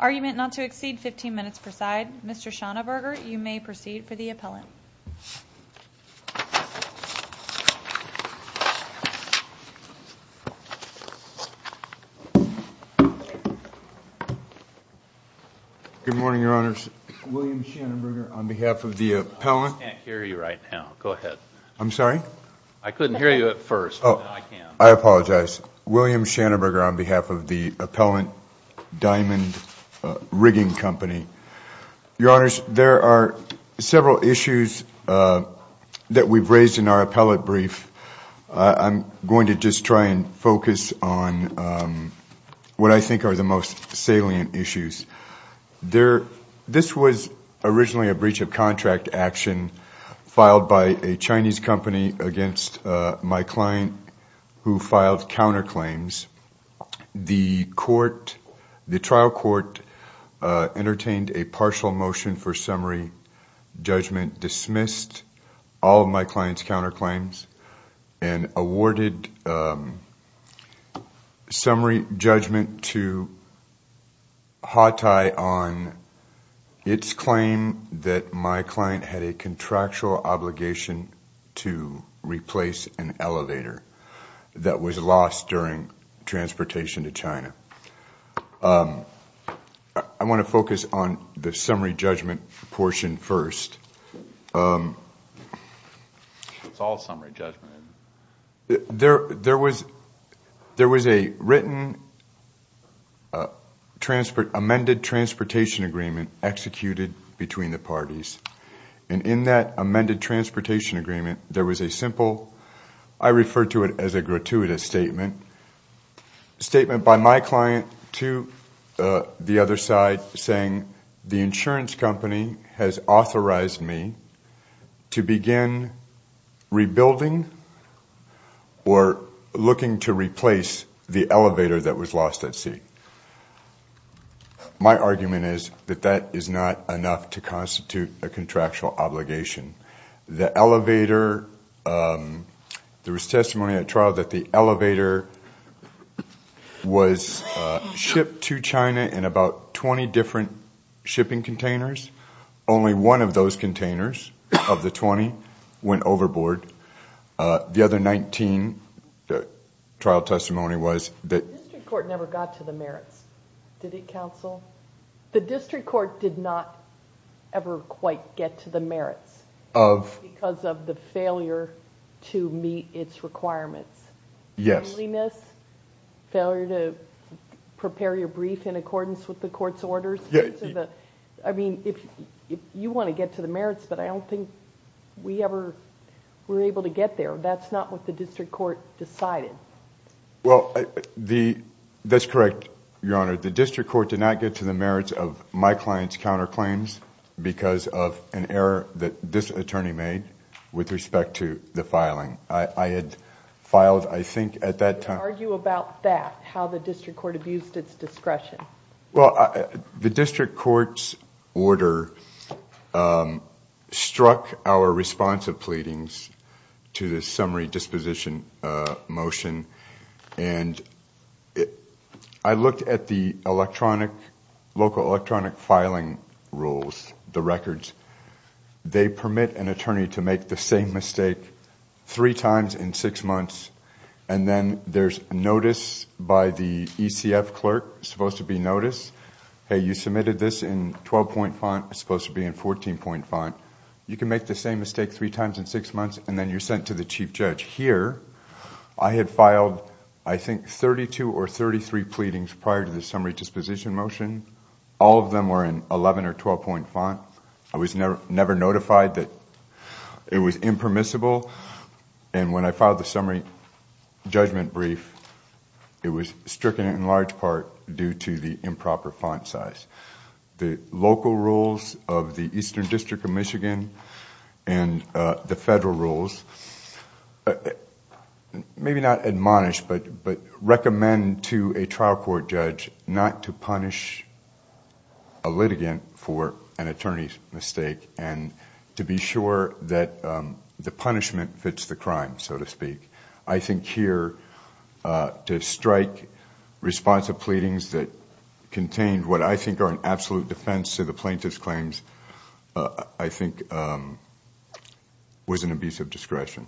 Argument not to exceed 15 minutes per side. Mr. Schanenberger, you may proceed for the appellant. Good morning, Your Honors. William Schanenberger on behalf of the appellant. I can't hear you right now. Go ahead. I'm sorry? I couldn't hear you at first. I apologize. William Schanenberger on behalf of the appellant, Dimond Rigging Company. Your Honors, there are several issues that we've raised in our appellate brief. I'm going to just try and focus on what I think are the most salient issues. This was originally a breach of contract action filed by a Chinese company against my client who filed counterclaims. The trial court entertained a partial motion for remissed all of my client's counterclaims and awarded summary judgment to Hawtai on its claim that my client had a contractual obligation to What's all summary judgment? There was a written amended transportation agreement executed between the parties, and in that amended transportation agreement, there was a simple I refer to it as a gratuitous statement, a statement by my client to the other side saying the insurance company has authorized me to begin rebuilding or looking to There was testimony at trial that the elevator was shipped to China in about 20 different shipping containers. Only one of those containers of the 20 went overboard. The other 19, the trial testimony was that The district court never got to the merits. Did it, counsel? The district court did not ever quite get to the merits because of the failure to meet its requirements. Failure to prepare your brief in accordance with the court's orders. You want to get to the merits, but I don't think we ever were able to get there. That's not what the district court decided. Well, that's correct, Your Honor. The district court did not get to the merits of my client's counterclaims because of an error that this attorney made with respect to the filing. I had filed, I think, at that time You can argue about that, how the district court abused its discretion. Well, the district court's order struck our response of pleadings to the summary disposition motion, and I looked at the electronic, local electronic filing rules, the records. They permit an attorney to make the same mistake three times in six months, and then there's notice by the ECF clerk. It's supposed to be notice. Hey, you submitted this in 12-point font. It's supposed to be in 14-point font. You can make the same mistake three times in six months, and then you're sent to the chief judge. I had filed, I think, 32 or 33 pleadings prior to the summary disposition motion. All of them were in 11- or 12-point font. I was never notified that it was impermissible, and when I filed the summary judgment brief, it was stricken in large part due to the improper font size. The local rules of the Eastern District of Michigan and the federal rules, maybe not admonish, but recommend to a trial court judge not to punish a litigant for an attorney's mistake and to be sure that the punishment fits the crime, so to speak. I think here to strike responsive pleadings that contained what I think are an absolute defense to the plaintiff's claims, I think, was an abuse of discretion.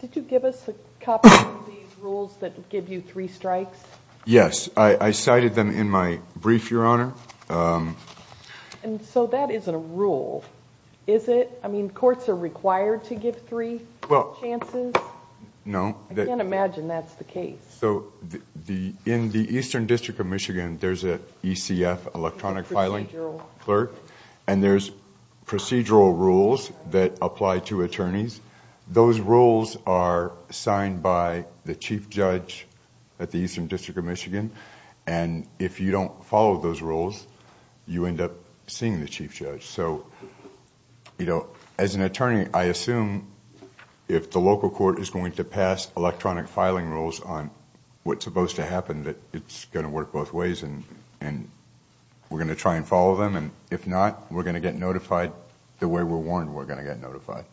Did you give us a copy of these rules that give you three strikes? Yes. I cited them in my brief, Your Honor. That isn't a rule, is it? Courts are required to give three chances? No. I can't imagine that's the case. In the Eastern District of Michigan, there's an ECF, electronic filing clerk, and there's procedural rules that apply to attorneys. Those rules are signed by the chief judge at the Eastern District of Michigan, and if you don't follow those rules, you end up seeing the chief judge. As an attorney, I assume if the local court is going to pass electronic filing rules on what's supposed to happen, that it's going to work both ways, and we're going to try and follow them, and if not, we're going to get notified the way we're warned we're going to get notified.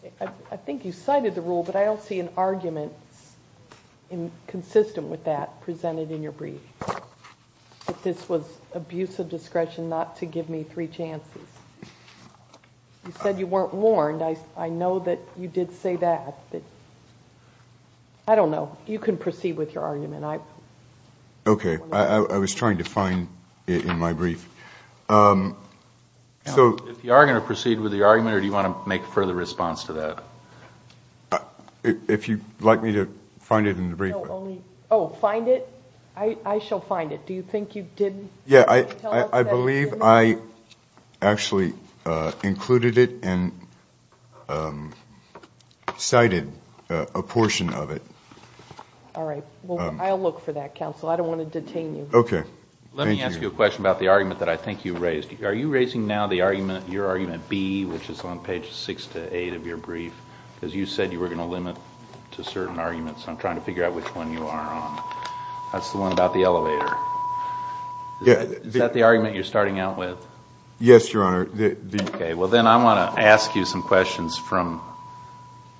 I think you cited the rule, but I don't see an argument consistent with that presented in your brief, that this was abuse of discretion not to give me three chances. You said you weren't warned. I know that you did say that. I don't know. You can proceed with your argument. Okay. I was trying to find it in my brief. If you are going to proceed with your argument, or do you want to make a further response to that? If you'd like me to find it in the brief. Oh, find it? I shall find it. Do you think you did tell us that you did? I believe I actually included it and cited a portion of it. All right. I'll look for that, counsel. I don't want to detain you. Okay. Thank you. Let me ask you a question about the argument that I think you raised. Are you raising now the argument, your argument B, which is on page six to eight of your brief? Because you said you were going to limit to certain arguments. I'm trying to figure out which one you are on. That's the one about the elevator. Is that the argument you're starting out with? Yes, Your Honor. Okay. Well, then I want to ask you some questions from...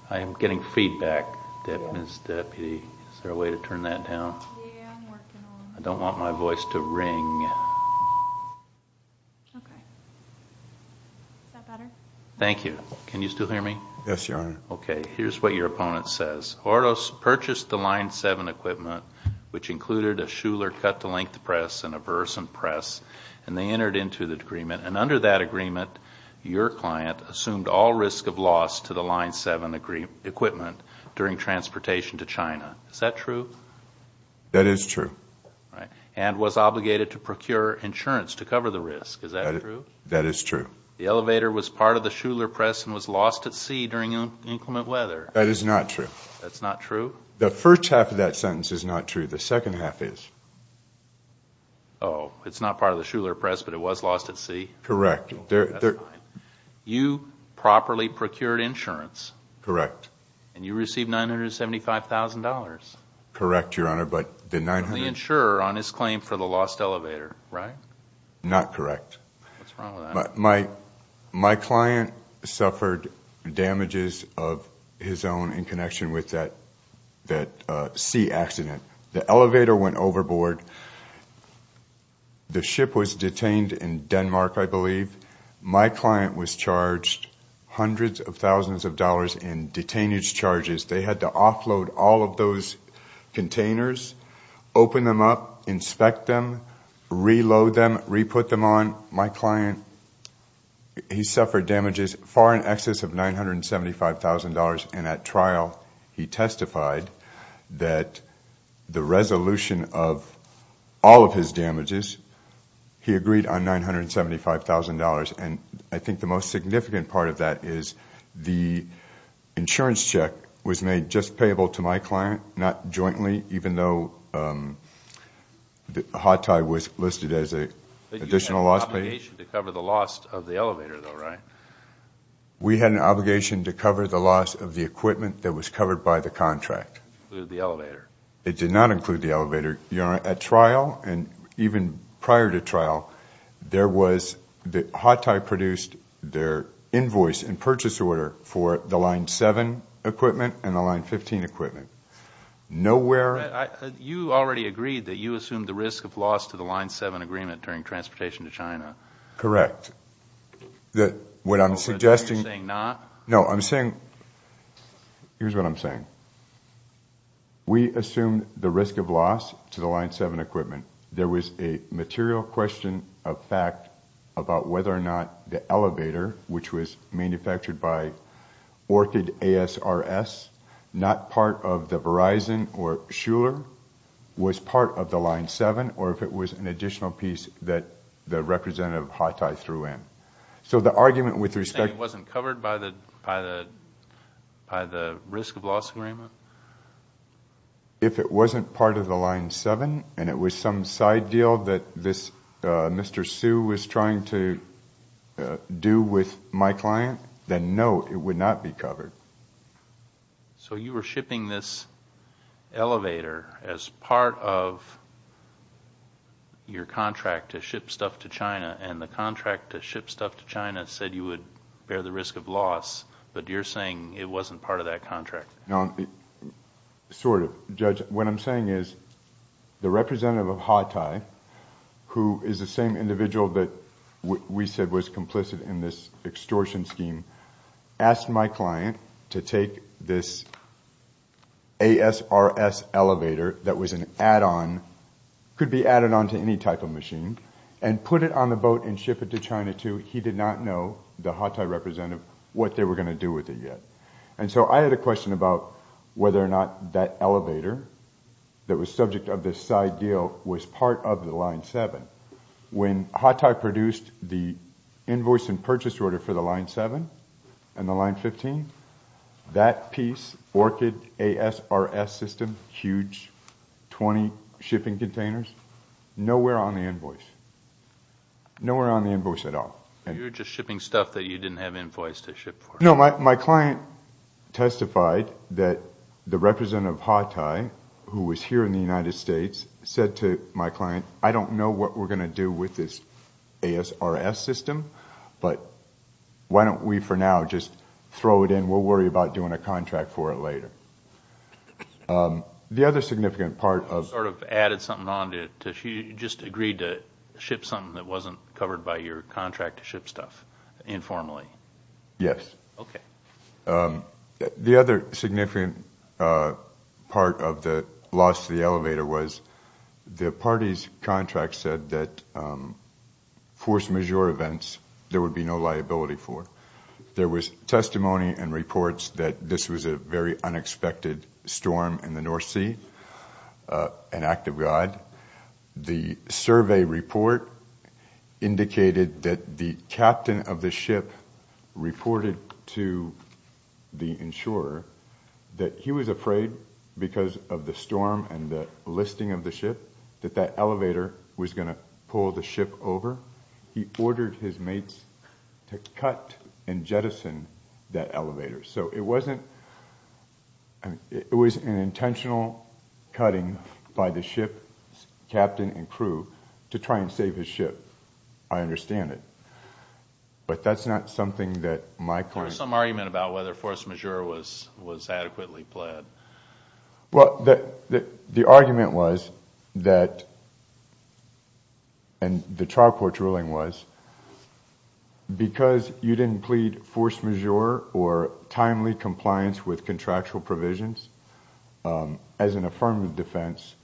I am getting feedback, Ms. Deputy. Is there a way to turn that down? Yeah, I'm working on it. I don't want my voice to ring. Okay. Is that better? Thank you. Can you still hear me? Yes, Your Honor. Okay. Here's what your opponent says. Ordos purchased the Line 7 equipment, which included a Shuler cut-to-length press and a Versant press, and they entered into the agreement. And under that agreement, your client assumed all risk of loss to the Line 7 equipment during transportation to China. Is that true? That is true. And was obligated to procure insurance to cover the risk. Is that true? That is true. The elevator was part of the Shuler press and was lost at sea during inclement weather. That is not true. That's not true? The first half of that sentence is not true. The second half is. Oh, it's not part of the Shuler press, but it was lost at sea? Correct. That's fine. You properly procured insurance. Correct. And you received $975,000. Correct, Your Honor, but the $900,000— From the insurer on his claim for the lost elevator, right? Not correct. What's wrong with that? My client suffered damages of his own in connection with that sea accident. The elevator went overboard. The ship was detained in Denmark, I believe. My client was charged hundreds of thousands of dollars in detainee charges. They had to offload all of those containers, open them up, inspect them, reload them, re-put them on. My client, he suffered damages far in excess of $975,000. And at trial, he testified that the resolution of all of his damages, he agreed on $975,000. And I think the most significant part of that is the insurance check was made just payable to my client, not jointly, even though hot tie was listed as an additional loss payment. But you had an obligation to cover the loss of the elevator, though, right? We had an obligation to cover the loss of the equipment that was covered by the contract. It included the elevator. It did not include the elevator. At trial and even prior to trial, there was the hot tie produced their invoice and purchase order for the Line 7 equipment and the Line 15 equipment. Nowhere. You already agreed that you assumed the risk of loss to the Line 7 agreement during transportation to China. Correct. What I'm suggesting. You're saying not? No, I'm saying. Here's what I'm saying. We assumed the risk of loss to the Line 7 equipment. There was a material question of fact about whether or not the elevator, which was manufactured by Orchid ASRS, not part of the Verizon or Shuler, was part of the Line 7 or if it was an additional piece that the representative hot tie threw in. You're saying it wasn't covered by the risk of loss agreement? If it wasn't part of the Line 7 and it was some side deal that Mr. Hsu was trying to do with my client, then no, it would not be covered. You were shipping this elevator as part of your contract to ship stuff to China and the contract to ship stuff to China said you would bear the risk of loss, but you're saying it wasn't part of that contract? Sort of. What I'm saying is the representative of hot tie, who is the same individual that we said was complicit in this extortion scheme, asked my client to take this ASRS elevator that was an add-on, could be added on to any type of machine, and put it on the boat and ship it to China too. He did not know, the hot tie representative, what they were going to do with it yet. And so I had a question about whether or not that elevator that was subject of this side deal was part of the Line 7. When hot tie produced the invoice and purchase order for the Line 7 and the Line 15, that piece, ORCID ASRS system, huge, 20 shipping containers, nowhere on the invoice. Nowhere on the invoice at all. You were just shipping stuff that you didn't have invoice to ship for? No, my client testified that the representative of hot tie, who was here in the United States, said to my client, I don't know what we're going to do with this ASRS system, but why don't we for now just throw it in. We'll worry about doing a contract for it later. The other significant part of... Sort of added something on to it. You just agreed to ship something that wasn't covered by your contract to ship stuff informally. Yes. Okay. The other significant part of the loss of the elevator was the party's contract said that force majeure events there would be no liability for. There was testimony and reports that this was a very unexpected storm in the North Sea, an act of God. The survey report indicated that the captain of the ship reported to the insurer that he was afraid, because of the storm and the listing of the ship, that that elevator was going to pull the ship over. He ordered his mates to cut and jettison that elevator. It was an intentional cutting by the ship's captain and crew to try and save his ship. I understand it. But that's not something that my client... There was some argument about whether force majeure was adequately pled. The argument was that, and the trial court's ruling was, because you didn't plead force majeure or timely compliance with contractual provisions, as an affirmative defense,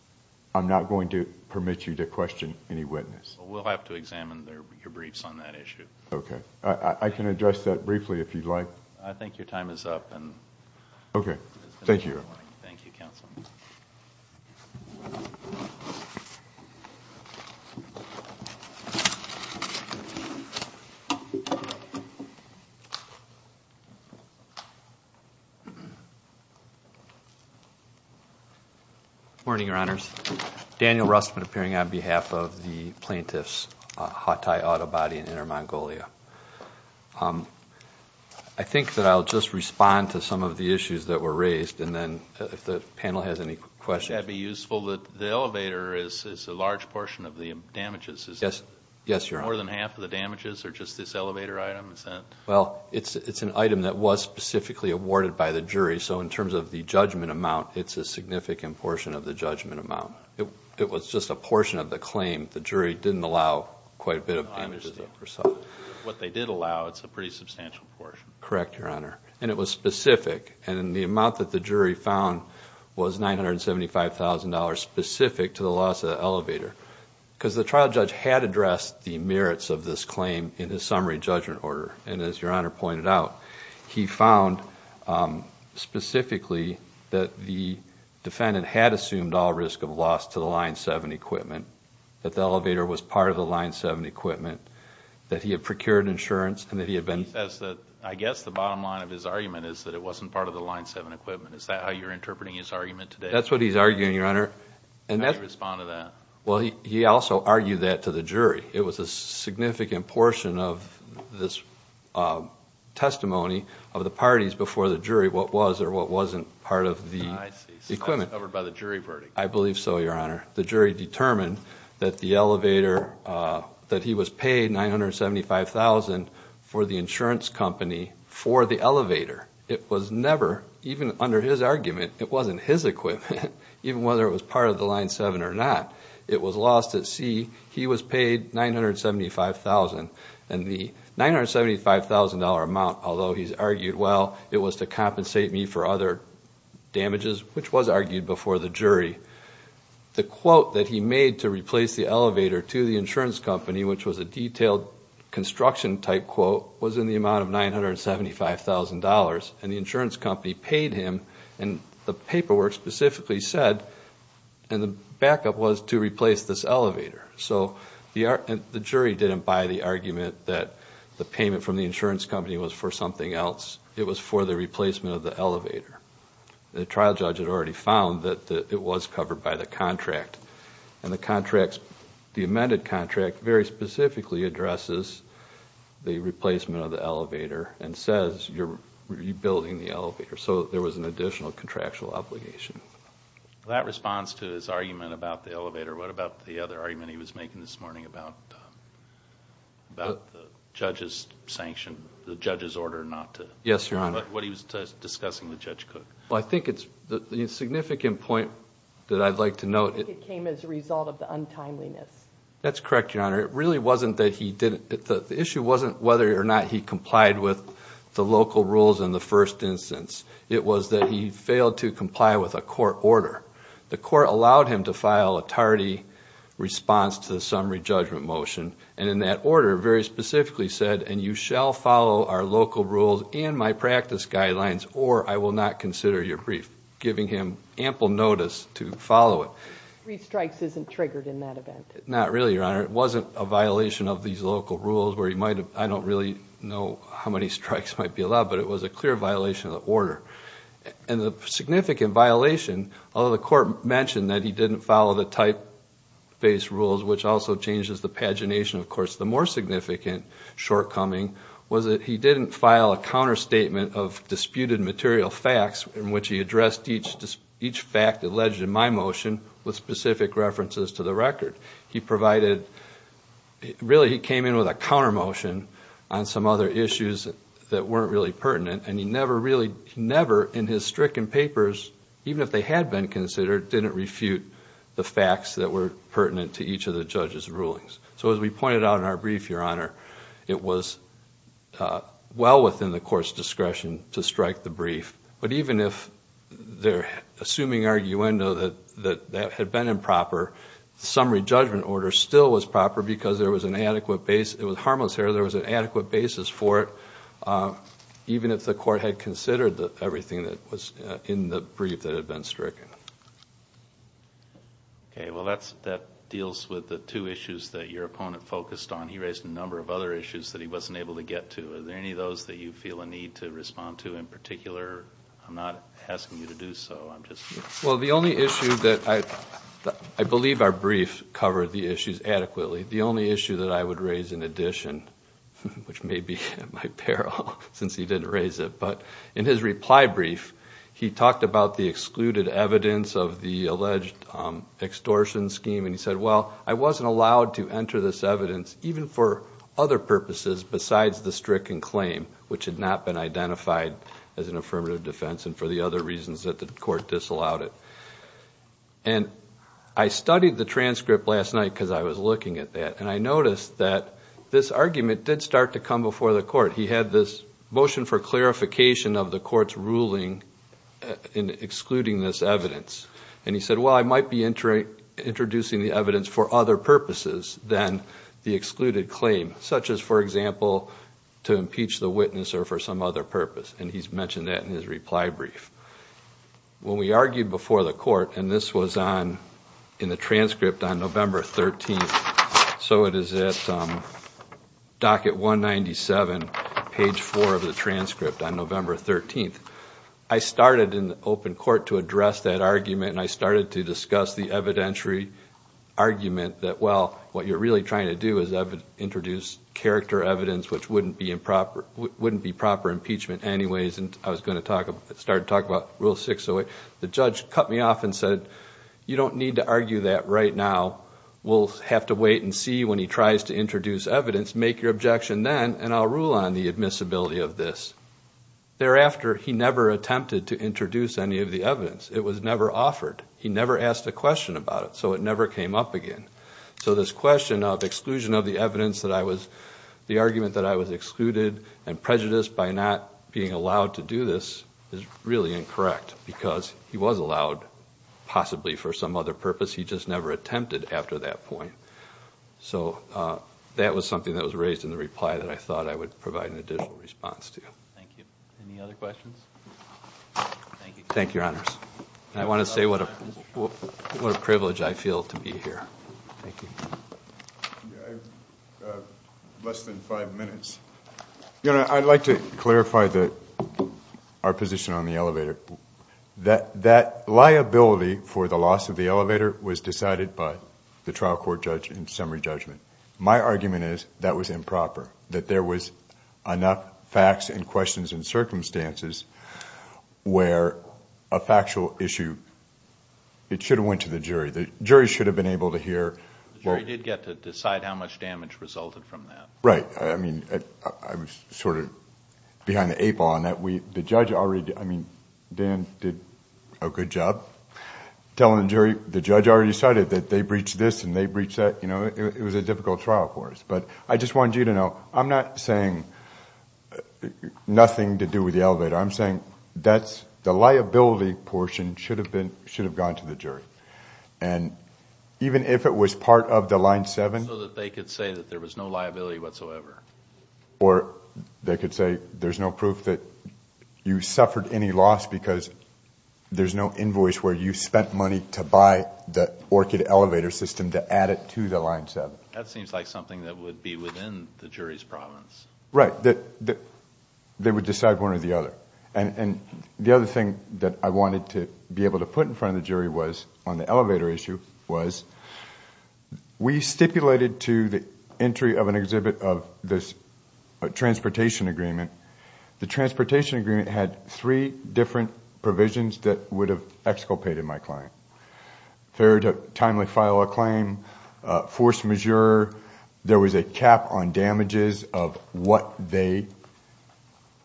I'm not going to permit you to question any witness. We'll have to examine your briefs on that issue. Okay. I can address that briefly if you'd like. I think your time is up. Okay. Thank you. Thank you, Counsel. Good morning, Your Honors. Daniel Rustman appearing on behalf of the plaintiffs, Hatay Auto Body in Inner Mongolia. I think that I'll just respond to some of the issues that were raised, and then if the panel has any questions... It would be useful that the elevator is a large portion of the damages. Yes, Your Honor. More than half of the damages are just this elevator item? Well, it's an item that was specifically awarded by the jury, so in terms of the judgment amount, it's a significant portion of the judgment amount. It was just a portion of the claim. The jury didn't allow quite a bit of damages. What they did allow, it's a pretty substantial portion. Correct, Your Honor. And it was specific, and the amount that the jury found was $975,000 specific to the loss of the elevator. Because the trial judge had addressed the merits of this claim in his summary judgment order, and as Your Honor pointed out, he found specifically that the defendant had assumed all risk of loss to the Line 7 equipment, that the elevator was part of the Line 7 equipment, that he had procured insurance, and that he had been... He says that I guess the bottom line of his argument is that it wasn't part of the Line 7 equipment. Is that how you're interpreting his argument today? That's what he's arguing, Your Honor. How do you respond to that? Well, he also argued that to the jury. It was a significant portion of this testimony of the parties before the jury what was or what wasn't part of the equipment. I see. So that's covered by the jury verdict. I believe so, Your Honor. The jury determined that the elevator, that he was paid $975,000 for the insurance company for the elevator. It was never, even under his argument, it wasn't his equipment, even whether it was part of the Line 7 or not. It was lost at sea. He was paid $975,000. And the $975,000 amount, although he's argued, well, it was to compensate me for other damages, which was argued before the jury. The quote that he made to replace the elevator to the insurance company, which was a detailed construction-type quote, was in the amount of $975,000. And the insurance company paid him, and the paperwork specifically said, and the backup was to replace this elevator. So the jury didn't buy the argument that the payment from the insurance company was for something else. It was for the replacement of the elevator. The trial judge had already found that it was covered by the contract. And the amended contract very specifically addresses the replacement of the elevator and says you're rebuilding the elevator. So there was an additional contractual obligation. Well, that responds to his argument about the elevator. What about the other argument he was making this morning about the judge's sanction, the judge's order not to... Yes, Your Honor. What he was discussing with Judge Cook. Well, I think it's... the significant point that I'd like to note... It came as a result of the untimeliness. That's correct, Your Honor. It really wasn't that he didn't... the issue wasn't whether or not he complied with the local rules in the first instance. It was that he failed to comply with a court order. The court allowed him to file a tardy response to the summary judgment motion. And in that order, very specifically said, and you shall follow our local rules and my practice guidelines or I will not consider your brief. Giving him ample notice to follow it. Three strikes isn't triggered in that event. Not really, Your Honor. It wasn't a violation of these local rules where he might have... I don't really know how many strikes might be allowed, but it was a clear violation of the order. And the significant violation... Although the court mentioned that he didn't follow the typeface rules, which also changes the pagination, of course. The more significant shortcoming was that he didn't file a counterstatement of disputed material facts... in which he addressed each fact alleged in my motion with specific references to the record. He provided... Really, he came in with a counter motion on some other issues that weren't really pertinent. And, he never really... never in his stricken papers, even if they had been considered, didn't refute the facts that were pertinent to each of the judge's rulings. So, as we pointed out in our brief, Your Honor, it was well within the court's discretion to strike the brief. But, even if they're assuming arguendo that that had been improper, summary judgment order still was proper because there was an adequate base. It was harmless error. There was an adequate basis for it. Even if the court had considered everything that was in the brief that had been stricken. Okay, well that deals with the two issues that your opponent focused on. He raised a number of other issues that he wasn't able to get to. Are there any of those that you feel a need to respond to in particular? I'm not asking you to do so. I'm just... Well, the only issue that I... I believe our brief covered the issues adequately. The only issue that I would raise in addition, which may be at my peril since he didn't raise it. But, in his reply brief, he talked about the excluded evidence of the alleged extortion scheme. And he said, well, I wasn't allowed to enter this evidence, even for other purposes besides the stricken claim, which had not been identified as an affirmative defense and for the other reasons that the court disallowed it. And I studied the transcript last night because I was looking at that. And I noticed that this argument did start to come before the court. He had this motion for clarification of the court's ruling in excluding this evidence. And he said, well, I might be introducing the evidence for other purposes than the excluded claim. Such as, for example, to impeach the witness or for some other purpose. And he's mentioned that in his reply brief. When we argued before the court, and this was in the transcript on November 13th. So it is at docket 197, page 4 of the transcript on November 13th. I started in the open court to address that argument. And I started to discuss the evidentiary argument that, well, what you're really trying to do is introduce character evidence, which wouldn't be proper impeachment anyways. And I started to talk about Rule 608. The judge cut me off and said, you don't need to argue that right now. We'll have to wait and see when he tries to introduce evidence. Make your objection then, and I'll rule on the admissibility of this. Thereafter, he never attempted to introduce any of the evidence. It was never offered. He never asked a question about it. So it never came up again. So this question of exclusion of the evidence that I was, the argument that I was excluded and prejudiced by not being allowed to do this, is really incorrect because he was allowed, possibly for some other purpose. He just never attempted after that point. So that was something that was raised in the reply that I thought I would provide an additional response to. Thank you. Thank you. Thank you, Your Honors. I want to say what a privilege I feel to be here. Thank you. I have less than five minutes. Your Honor, I'd like to clarify our position on the elevator. That liability for the loss of the elevator was decided by the trial court judge in summary judgment. My argument is that was improper, that there was enough facts and questions and circumstances where a factual issue, it should have went to the jury. The jury should have been able to hear... The jury did get to decide how much damage resulted from that. Right. I mean, I was sort of behind the eight ball on that. The judge already... I mean, Dan did a good job telling the jury. The judge already decided that they breached this and they breached that. It was a difficult trial for us. But I just wanted you to know, I'm not saying nothing to do with the elevator. I'm saying that the liability portion should have gone to the jury. And even if it was part of the Line 7... So that they could say that there was no liability whatsoever. Or they could say there's no proof that you suffered any loss because there's no invoice where you spent money to buy the Orchid elevator system to add it to the Line 7. That seems like something that would be within the jury's province. Right. They would decide one or the other. And the other thing that I wanted to be able to put in front of the jury was, on the elevator issue, was... We stipulated to the entry of an exhibit of this transportation agreement... The transportation agreement had three different provisions that would have exculpated my client. Fair to timely file a claim. Force majeure. There was a cap on damages of what they...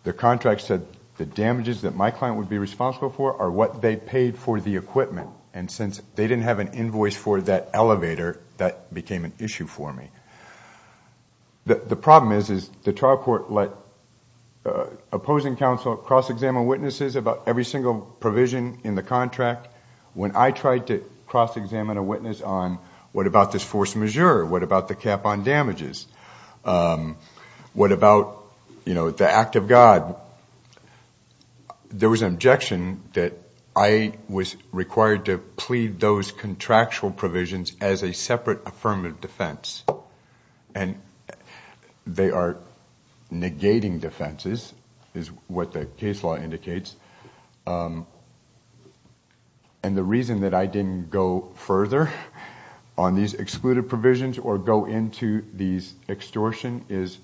The contract said the damages that my client would be responsible for are what they paid for the equipment. And since they didn't have an invoice for that elevator, that became an issue for me. The problem is, is the trial court let opposing counsel cross-examine witnesses about every single provision in the contract. When I tried to cross-examine a witness on, what about this force majeure? What about the cap on damages? What about the act of God? There was an objection that I was required to plead those contractual provisions as a separate affirmative defense. And they are negating defenses, is what the case law indicates. And the reason that I didn't go further on these excluded provisions or go into these extortion is...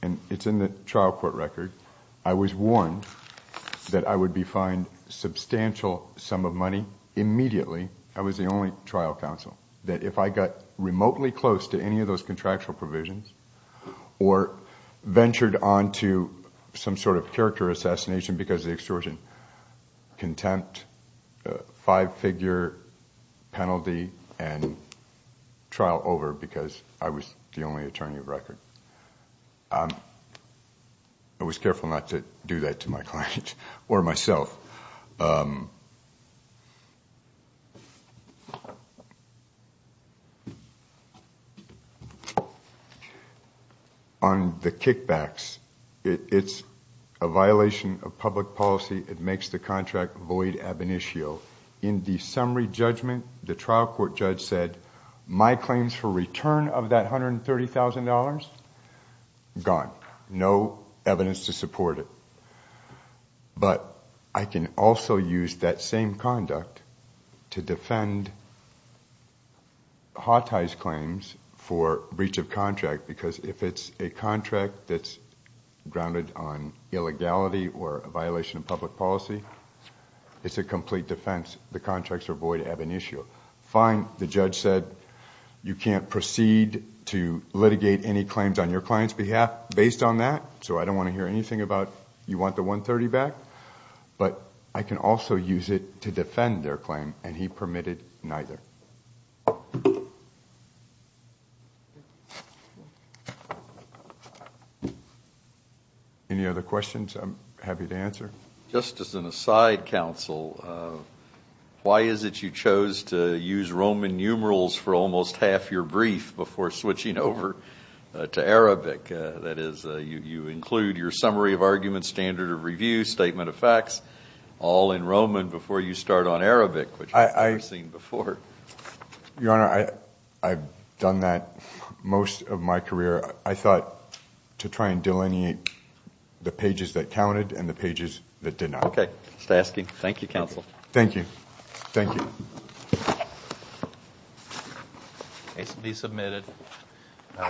And it's in the trial court record. I was warned that I would be fined a substantial sum of money immediately. I was the only trial counsel. That if I got remotely close to any of those contractual provisions... Or ventured on to some sort of character assassination because the extortion contempt, five-figure penalty and trial over because I was the only attorney of record. I was careful not to do that to my client or myself. On the kickbacks, it's a violation of public policy. It makes the contract void ab initio. In the summary judgment, the trial court judge said, my claims for return of that $130,000, gone. No evidence to support it. But I can also use that same conduct to defend Hawtie's claims for breach of contract. Because if it's a contract that's grounded on illegality or a violation of public policy, it's a complete defense. The contracts are void ab initio. Fine. The judge said, you can't proceed to litigate any claims on your client's behalf based on that. So I don't want to hear anything about, you want the $130,000 back? But I can also use it to defend their claim. And he permitted neither. Any other questions I'm happy to answer? Just as an aside, counsel, why is it you chose to use Roman numerals for almost half your brief before switching over to Arabic? That is, you include your summary of arguments, standard of review, statement of facts, all in Roman before you start on Arabic, which I've never seen before. Your Honor, I've done that most of my career. I thought to try and delineate the pages that counted and the pages that did not. Okay. Thank you, counsel. Thank you. Thank you.